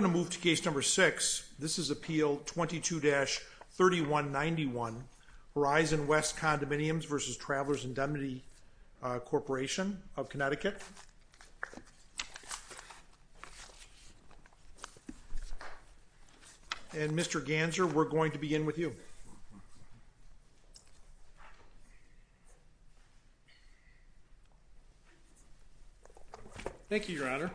Connecticut. I'm going to move to case number six. This is Appeal 22-3191, Horizon West Condominiums v. Travelers Indemnity Corporation of Connecticut. And Mr. Ganser, we're going to begin with you. Thank you, Your Honor.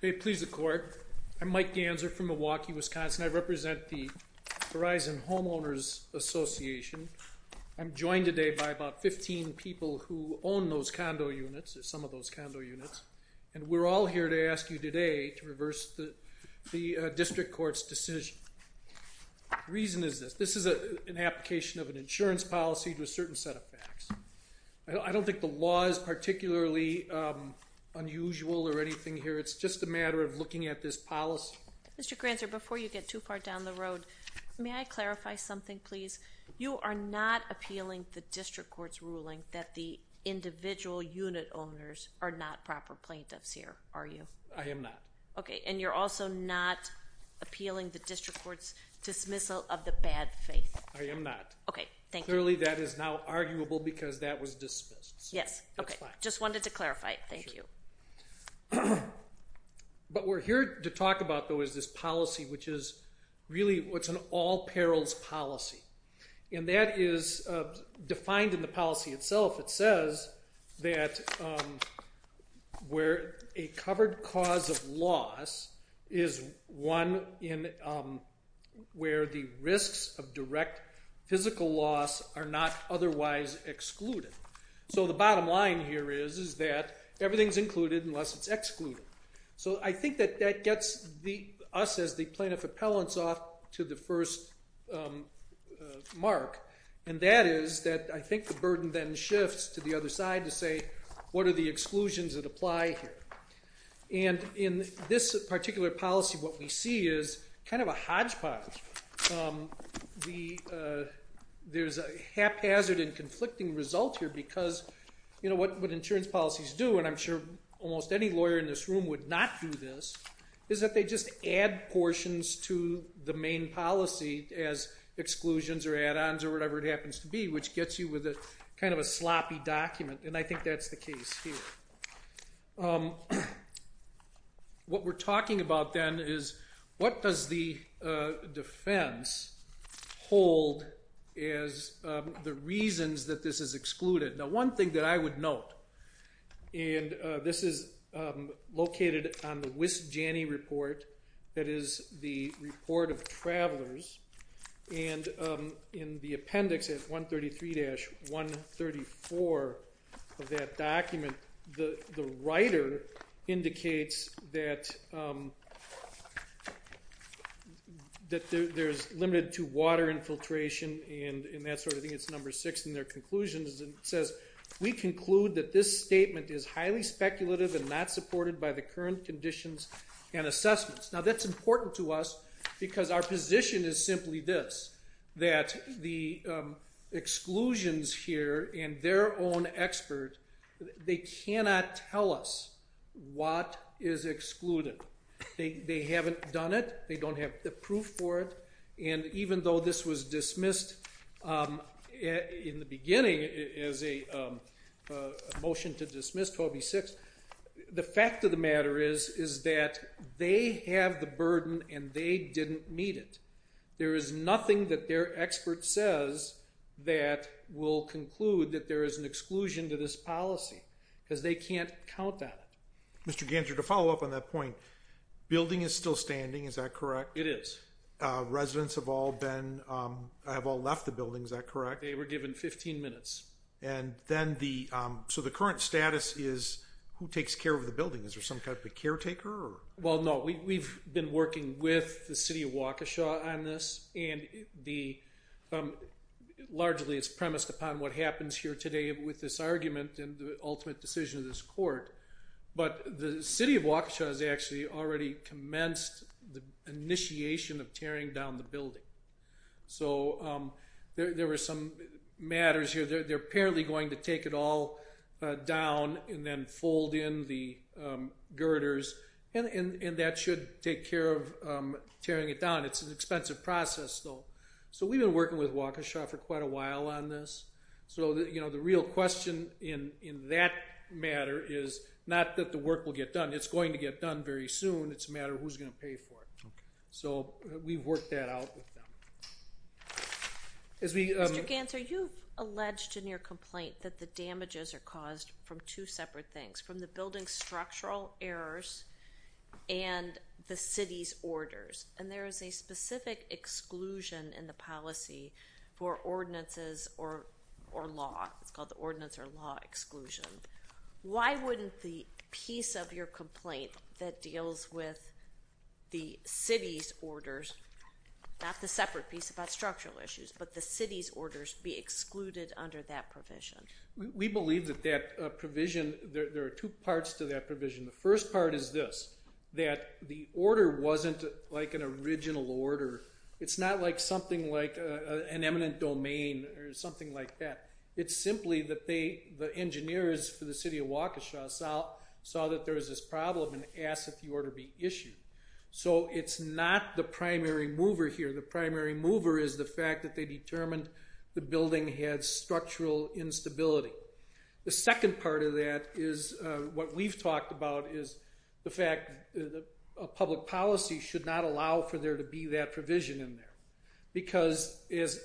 May it please the Court, I'm Mike Ganser from Milwaukee, Wisconsin. I represent the Horizon Homeowners Association. I'm joined today by about 15 people who own those condo units, some of those condo units. And we're all here to ask you today to reverse the district court's decision. The reason is this. This is an application of an insurance policy to a certain set of facts. I don't think the law is particularly unusual or anything here. It's just a matter of looking at this policy. Mr. Ganser, before you get too far down the road, may I clarify something, please? You are not appealing the district court's ruling that the individual unit owners are not proper plaintiffs here, are you? I am not. Okay. And you're also not appealing the district court's dismissal of the bad faith? I am not. Okay. Thank you. Clearly that is now arguable because that was dismissed. Yes. Okay. Just wanted to clarify. Thank you. But we're here to talk about, though, is this policy which is really what's an all-perils policy. And that is defined in the policy itself. It says that where a covered cause of loss is one in where the risks of direct physical loss are not otherwise excluded. So the bottom line here is that everything's included unless it's excluded. So I think that that gets us as the plaintiff appellants off to the first mark. And that is that I think the burden then shifts to the other side to say, what are the exclusions that apply here? And in this particular policy, what we see is kind of a hodgepodge. There's a haphazard and conflicting result here because what insurance policies do, and I'm sure almost any lawyer in this room would not do this, is that they just add portions to the main policy as exclusions or add-ons or whatever it happens to be, which gets you with kind of a sloppy document. And I think that's the case here. What we're talking about then is what does the defense hold as the reasons that this is excluded? Now, one thing that I would note, and this is located on the WIS-JANI report, that is the Report of Travelers, and in the appendix at 133-134 of that document, the writer indicates that there's limited to water infiltration and that sort of thing, it's number six in their conclusions, and it says, we conclude that this statement is highly speculative and not supported by the current conditions and assessments. Now, that's important to us because our position is simply this, that the exclusions here and their own expert, they cannot tell us what is excluded. They haven't done it. They don't have the proof for it, and even though this was dismissed in the beginning as a motion to dismiss 12B6, the fact of the matter is, is that they have the burden and they didn't meet it. There is nothing that their expert says that will conclude that there is an exclusion to this policy because they can't count on it. Mr. Ganser, to follow up on that point, building is still standing, is that correct? It is. Residents have all been, have all left the building, is that correct? They were given 15 minutes. And then the, so the current status is who takes care of the building? Is there some type of caretaker or? Well, no, we've been working with the city of Waukesha on this, and the, largely it's premised upon what happens here today with this argument and the ultimate decision of this court, but the city of Waukesha has actually already commenced the initiation of tearing down the building. So there were some matters here, they're apparently going to take it all down and then fold in the girders, and that should take care of tearing it down, it's an expensive process though. So we've been working with Waukesha for quite a while on this. So the real question in that matter is not that the work will get done, it's going to get done very soon, it's a matter of who's going to pay for it. So we've worked that out with them. Mr. Gantzer, you've alleged in your complaint that the damages are caused from two separate things, from the building's structural errors and the city's orders, and there is a specific exclusion in the policy for ordinances or law, it's called the ordinance or law exclusion. Why wouldn't the piece of your complaint that deals with the city's orders, not the separate piece about structural issues, but the city's orders be excluded under that provision? We believe that that provision, there are two parts to that provision, the first part is this, that the order wasn't like an original order, it's not like something like an eminent domain or something like that, it's simply that the engineers for the city of Waukesha saw that there was this problem and asked that the order be issued. So it's not the primary mover here, the primary mover is the fact that they determined the building had structural instability. The second part of that is what we've talked about is the fact that a public policy should not allow for there to be that provision in there, because as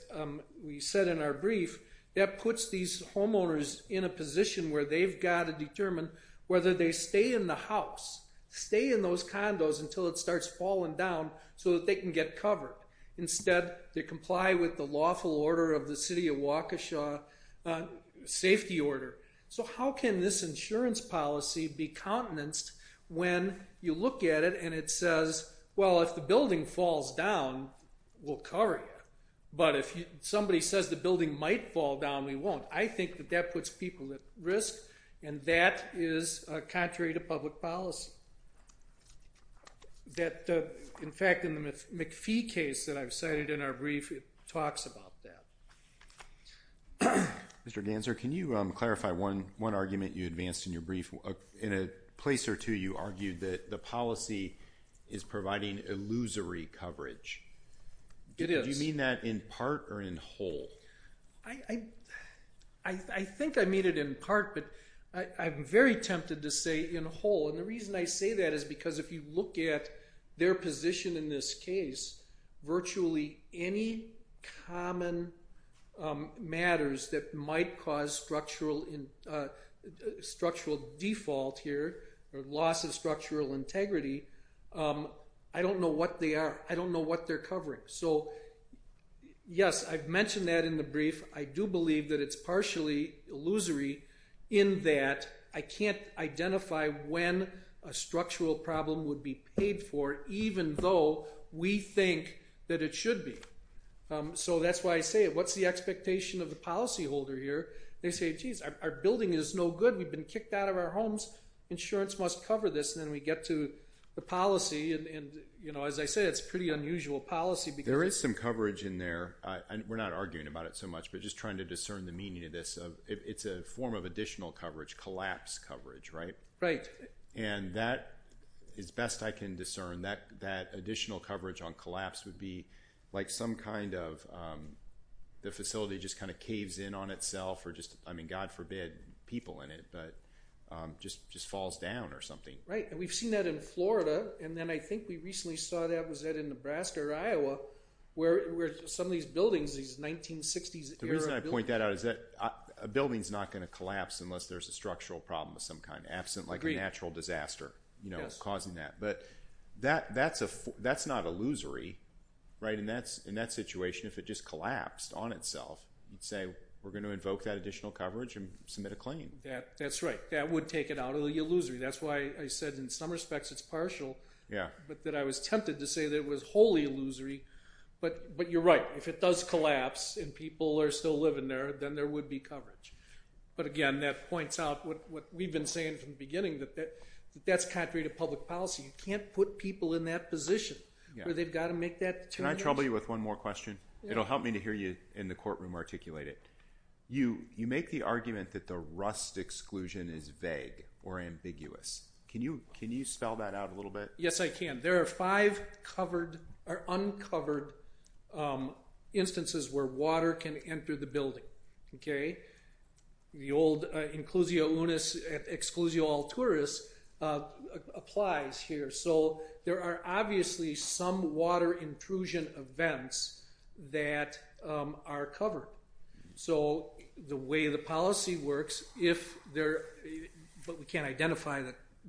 we said in our brief, that puts these homeowners in a position where they've got to determine whether they stay in the house, stay in those condos until it starts falling down so that they can get covered. Instead they comply with the lawful order of the city of Waukesha, safety order. So how can this insurance policy be countenanced when you look at it and it says, well if the building falls down, we'll cover you. But if somebody says the building might fall down, we won't. I think that that puts people at risk and that is contrary to public policy, that in fact in the McPhee case that I've cited in our brief, it talks about that. Mr. Danzer, can you clarify one argument you advanced in your brief? In a place or two you argued that the policy is providing illusory coverage. It is. Do you mean that in part or in whole? I think I mean it in part, but I'm very tempted to say in whole and the reason I say that is because if you look at their position in this case, virtually any common matters that might cause structural default here or loss of structural integrity, I don't know what they are, I don't know what they're covering. So yes, I've mentioned that in the brief, I do believe that it's partially illusory in that I can't identify when a structural problem would be paid for even though we think that it should be. So that's why I say it. What's the expectation of the policyholder here? They say, geez, our building is no good. We've been kicked out of our homes. Insurance must cover this and then we get to the policy and as I said, it's a pretty unusual policy. There is some coverage in there. We're not arguing about it so much, but just trying to discern the meaning of this. It's a form of additional coverage, collapse coverage, right? Right. And that, as best I can discern, that additional coverage on collapse would be like some kind of the facility just kind of caves in on itself or just, I mean, God forbid, people in it, but just falls down or something. Right. And we've seen that in Florida and then I think we recently saw that, was that in Nebraska or Iowa, where some of these buildings, these 1960s era buildings. The reason I point that out is that a building is not going to collapse unless there's a structural problem of some kind, absent like a natural disaster causing that. But that's not illusory, right? In that situation, if it just collapsed on itself, you'd say, we're going to invoke that additional coverage and submit a claim. That's right. That would take it out of the illusory. That's why I said in some respects it's partial, but that I was tempted to say that it was wholly illusory. But you're right. If it does collapse and people are still living there, then there would be coverage. But again, that points out what we've been saying from the beginning, that that's contrary to public policy. You can't put people in that position where they've got to make that determination. Can I trouble you with one more question? It'll help me to hear you in the courtroom articulate it. You make the argument that the rust exclusion is vague or ambiguous. Can you spell that out a little bit? Yes, I can. There are five uncovered instances where water can enter the building. The old inclusio unis exclusio alturis applies here. There are obviously some water intrusion events that are covered. The way the policy works, but we can't identify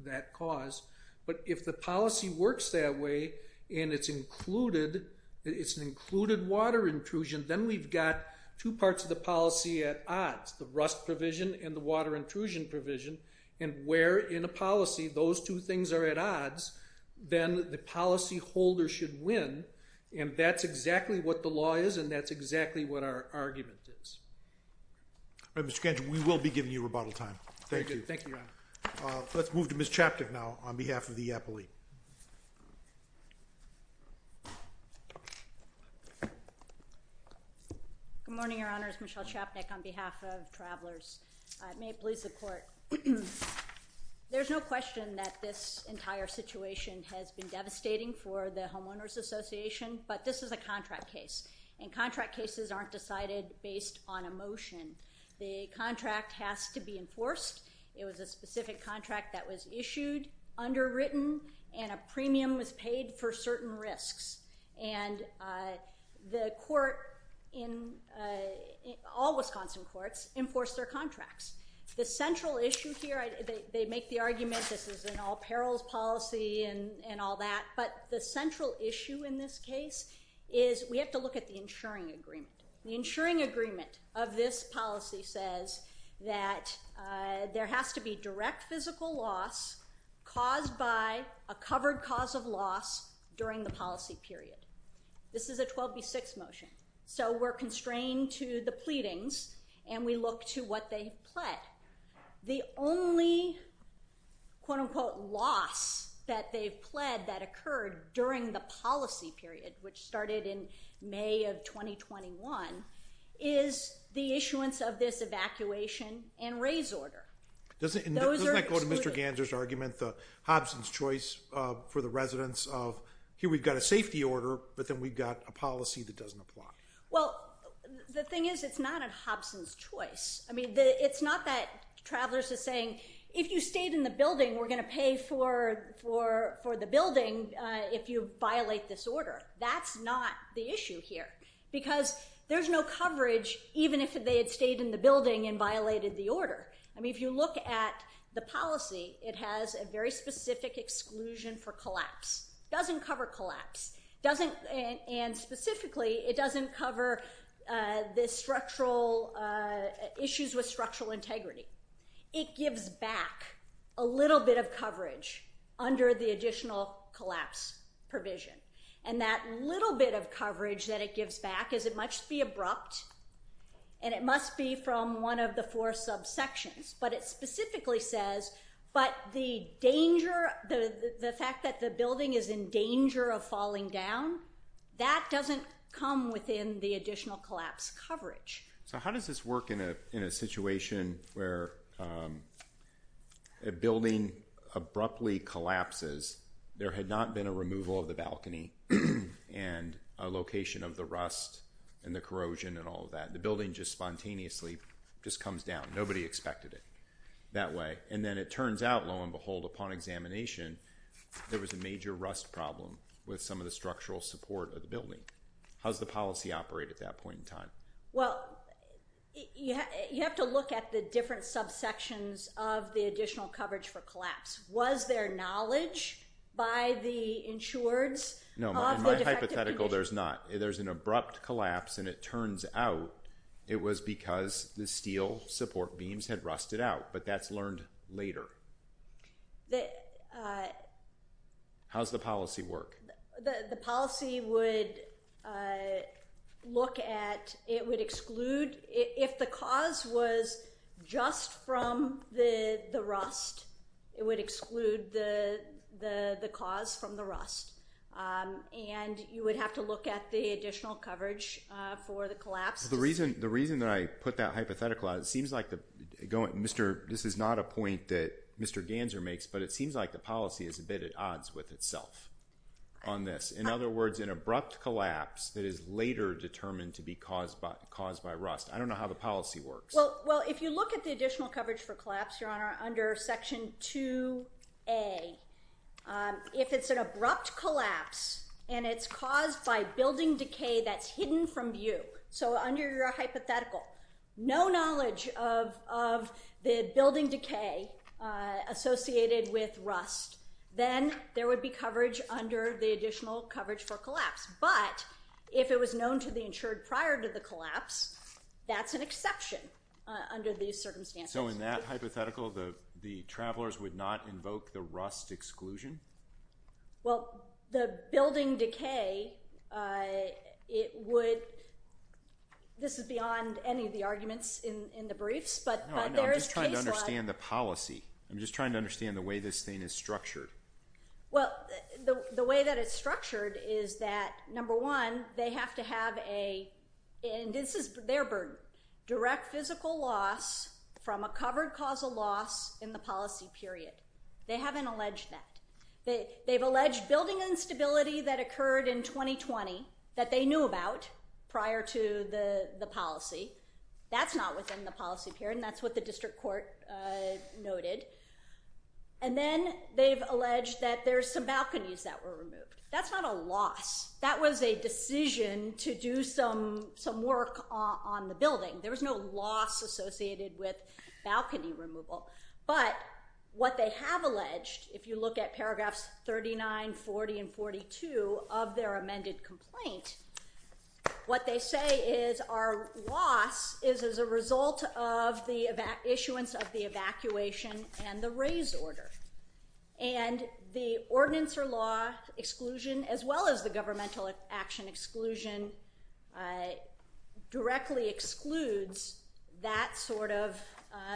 that cause. But if the policy works that way and it's included, it's an included water intrusion, then we've got two parts of the policy at odds, the rust provision and the water intrusion provision, and where in a policy those two things are at odds, then the policy holder should win. And that's exactly what the law is, and that's exactly what our argument is. All right, Mr. Kancher, we will be giving you rebuttal time. Thank you. Thank you, Your Honor. Let's move to Ms. Chapnick now on behalf of the appellee. Good morning, Your Honors. Michelle Chapnick on behalf of Travelers. May it please the court. There's no question that this entire situation has been devastating for the Homeowners Association, but this is a contract case, and contract cases aren't decided based on a motion. The contract has to be enforced. It was a specific contract that was issued, underwritten, and a premium was paid for certain risks, and the court in—all Wisconsin courts enforce their contracts. The central issue here—they make the argument this is an all-perils policy and all that, but the central issue in this case is we have to look at the insuring agreement. The insuring agreement of this policy says that there has to be direct physical loss caused by a covered cause of loss during the policy period. This is a 12B6 motion, so we're constrained to the pleadings, and we look to what they pled. The only quote-unquote loss that they've pled that occurred during the policy period, which started in May of 2021, is the issuance of this evacuation and raise order. Doesn't that go to Mr. Ganser's argument, the Hobson's choice for the residents of here we've got a safety order, but then we've got a policy that doesn't apply? Well, the thing is it's not a Hobson's choice. It's not that Travelers is saying, if you stayed in the building, we're going to pay for the building if you violate this order. That's not the issue here because there's no coverage even if they had stayed in the building and violated the order. I mean, if you look at the policy, it has a very specific exclusion for collapse. It doesn't cover collapse, and specifically, it doesn't cover the structural issues with structural integrity. It gives back a little bit of coverage under the additional collapse provision, and that little bit of coverage that it gives back is it must be abrupt, and it must be from one of the four subsections, but it specifically says, but the danger, the fact that the building is in danger of falling down, that doesn't come within the additional collapse coverage. So how does this work in a situation where a building abruptly collapses? There had not been a removal of the balcony and a location of the rust and the corrosion and all of that. The building just spontaneously just comes down. Nobody expected it that way, and then it turns out, lo and behold, upon examination, there was a major rust problem with some of the structural support of the building. How does the policy operate at that point in time? Well, you have to look at the different subsections of the additional coverage for collapse. Was there knowledge by the insureds of the defective condition? No, in my hypothetical, there's not. There's an abrupt collapse, and it turns out it was because the steel support beams had rusted out, but that's learned later. How does the policy work? The policy would look at... It would exclude... If the cause was just from the rust, it would exclude the cause from the rust, and you would have to look at the additional coverage for the collapse. The reason that I put that hypothetical out, it seems like the... This is not a point that Mr. Ganser makes, but it seems like the policy is a bit at odds with itself on this. In other words, an abrupt collapse that is later determined to be caused by rust. I don't know how the policy works. Well, if you look at the additional coverage for collapse, Your Honour, under Section 2A, if it's an abrupt collapse and it's caused by building decay that's hidden from view, so under your hypothetical, no knowledge of the building decay associated with rust, then there would be coverage under the additional coverage for collapse. But if it was known to the insured prior to the collapse, that's an exception under these circumstances. So in that hypothetical, the travellers would not invoke the rust exclusion? Well, the building decay, it would... I haven't found any of the arguments in the briefs, but there is case law... I'm just trying to understand the policy. I'm just trying to understand the way this thing is structured. Well, the way that it's structured is that, number one, they have to have a... And this is their burden. Direct physical loss from a covered causal loss in the policy period. They haven't alleged that. They've alleged building instability that occurred in 2020 that they knew about prior to the policy. That's not within the policy period, and that's what the district court noted. And then they've alleged that there's some balconies that were removed. That's not a loss. That was a decision to do some work on the building. There was no loss associated with balcony removal. But what they have alleged, if you look at paragraphs 39, 40 and 42 of their amended complaint, what they say is our loss is as a result of the issuance of the evacuation and the raise order. And the ordinance or law exclusion, as well as the governmental action exclusion, directly excludes that sort of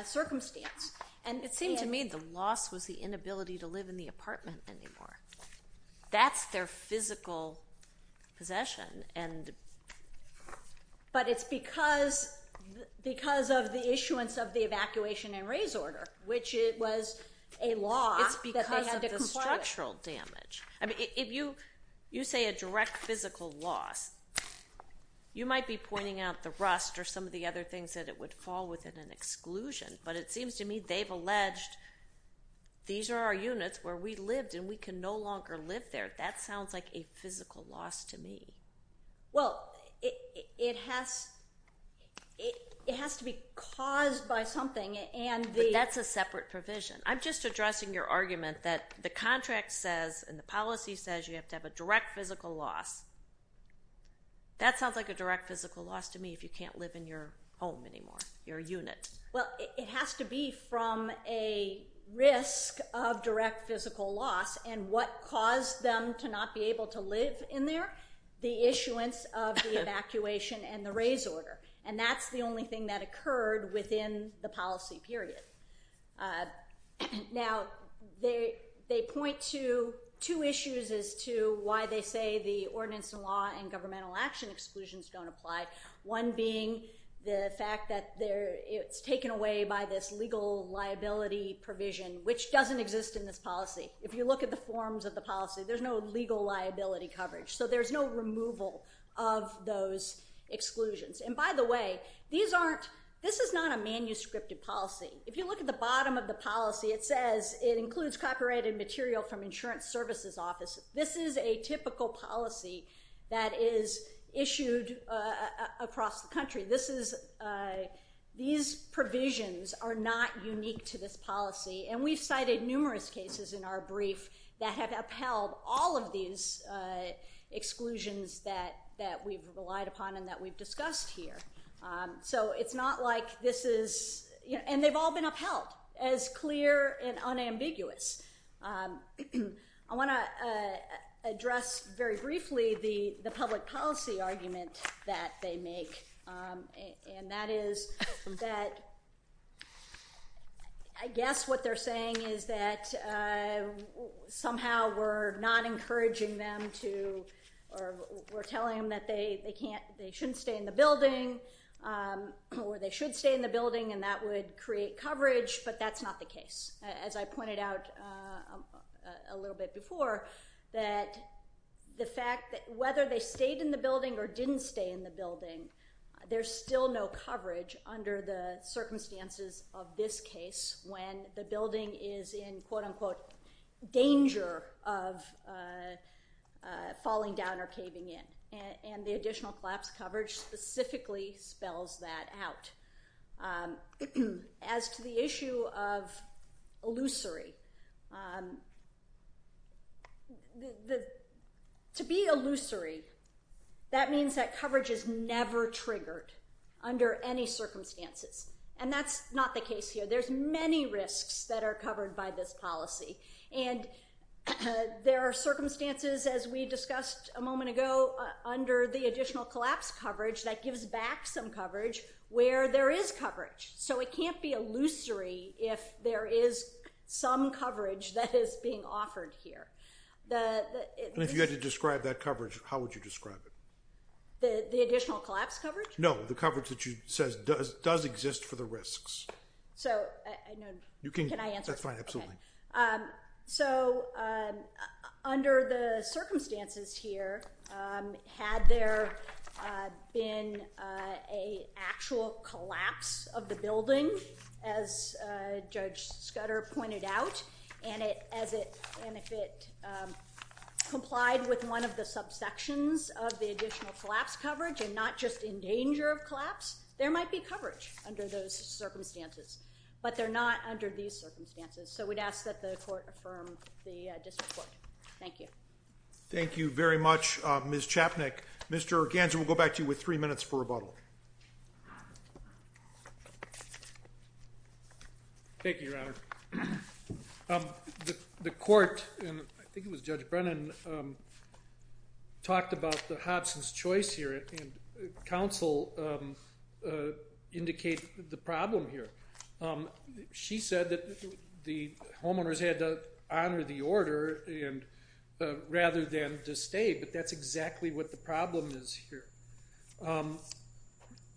circumstance. And it seemed to me the loss was the inability to live in the apartment anymore. That's their physical possession. But it's because of the issuance of the evacuation and raise order, which was a law that they had to comply with. It's because of the structural damage. I mean, if you say a direct physical loss, you might be pointing out the rust or some of the other things that it would fall within an exclusion, but it seems to me they've alleged these are our units where we lived and we can no longer live there. That sounds like a physical loss to me. Well, it has to be caused by something and the... But that's a separate provision. I'm just addressing your argument that the contract says and the policy says you have to have a direct physical loss. That sounds like a direct physical loss to me if you can't live in your home anymore, your unit. Well, it has to be from a risk of direct physical loss and what caused them to not be able to live in there, the issuance of the evacuation and the raise order. And that's the only thing that occurred within the policy period. Now, they point to two issues as to why they say the ordinance and law and governmental action exclusions don't apply. One being the fact that it's taken away by this legal liability provision, which doesn't exist in this policy. If you look at the forms of the policy, there's no legal liability coverage. So there's no removal of those exclusions. And by the way, these aren't... This is not a manuscripted policy. If you look at the bottom of the policy, it says it includes copyrighted material from Insurance Services Office. This is a typical policy that is issued across the country. This is... These provisions are not unique to this policy. And we've cited numerous cases in our brief that have upheld all of these exclusions that we've relied upon and that we've discussed here. So it's not like this is... And they've all been upheld as clear and unambiguous. I want to address very briefly the public policy argument that they make. And that is that... I guess what they're saying is that somehow we're not encouraging them to... or we're telling them that they can't... they shouldn't stay in the building or they should stay in the building and that would create coverage, but that's not the case. As I pointed out a little bit before, that the fact that whether they stayed in the building or didn't stay in the building, there's still no coverage under the circumstances of this case when the building is in, quote-unquote, danger of falling down or caving in. And the additional collapse coverage specifically spells that out. As to the issue of illusory... To be illusory, that means that coverage is never triggered under any circumstances. And that's not the case here. There's many risks that are covered by this policy. And there are circumstances, as we discussed a moment ago, under the additional collapse coverage that gives back some coverage where there is coverage. So it can't be illusory if there is some coverage that is being offered here. The... And if you had to describe that coverage, how would you describe it? The additional collapse coverage? No, the coverage that you said does exist for the risks. So... Can I answer? That's fine, absolutely. So under the circumstances here, had there been an actual collapse of the building, as Judge Scudder pointed out, and if it complied with one of the subsections of the additional collapse coverage and not just in danger of collapse, there might be coverage under those circumstances. But they're not under these circumstances. So we'd ask that the court affirm the district court. Thank you. Thank you very much, Ms. Chapnick. Mr. Ganser, we'll go back to you with three minutes for rebuttal. Thank you, Your Honor. The court, and I think it was Judge Brennan, talked about the Hobson's Choice here, and counsel indicate the problem here. She said that the homeowners had to honor the order rather than to stay, but that's exactly what the problem is here.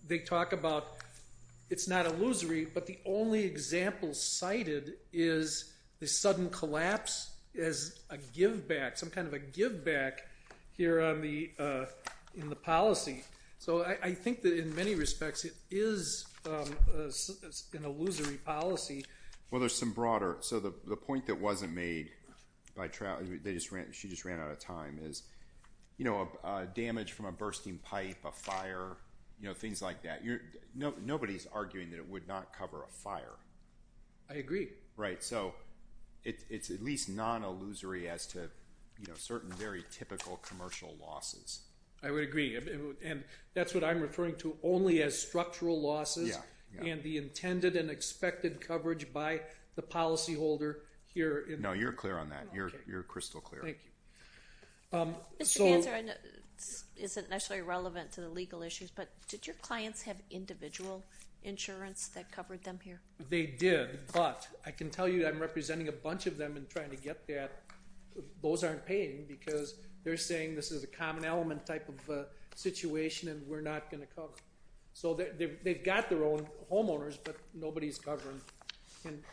They talk about it's not illusory, but the only example cited is the sudden collapse as a give-back, some kind of a give-back here in the policy. So I think that in many respects, it is an illusory policy. Well, there's some broader. So the point that wasn't made by trial, she just ran out of time, is damage from a bursting pipe, a fire, things like that. Nobody's arguing that it would not cover a fire. I agree. Right, so it's at least non-illusory as to certain very typical commercial losses. I would agree, and that's what I'm referring to only as structural losses and the intended and expected coverage by the policyholder here. No, you're clear on that. You're crystal clear. Thank you. Mr. Hanser, this isn't necessarily relevant to the legal issues, but did your clients have individual insurance that covered them here? They did, but I can tell you I'm representing a bunch of them and trying to get that. Those aren't paying because they're saying this is a common element type of a situation and we're not going to cover. So they've got their own homeowners, but nobody's covered. And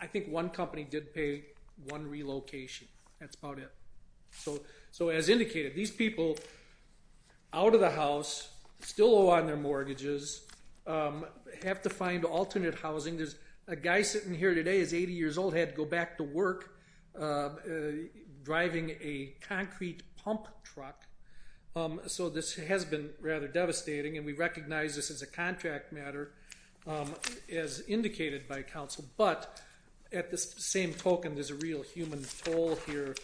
I think one company did pay one relocation. That's about it. So as indicated, these people out of the house still owe on their mortgages, have to find alternate housing. There's a guy sitting here today is 80 years old, had to go back to work driving a concrete pump truck. So this has been rather devastating, and we recognize this as a contract matter. Um, as indicated by counsel, but at the same token, there's a real human toll here.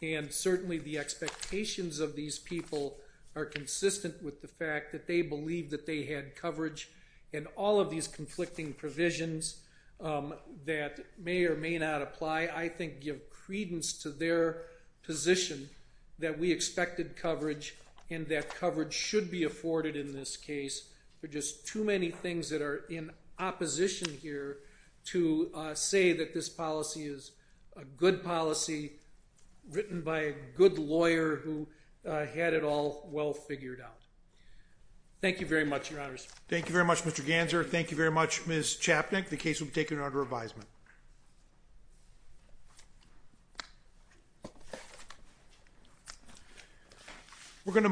And certainly the expectations of these people are consistent with the fact that they believe that they had coverage and all of these conflicting provisions, um, that may or may not apply. I think give credence to their position that we expected coverage and that coverage should be afforded in this case. There are just too many things that are in opposition here to, uh, say that this policy is a good policy written by a good lawyer who, uh, had it all well figured out. Thank you very much, Your Honors. Thank you very much, Mr. Ganser. Thank you very much, Ms. Chapnick. We're gonna move on.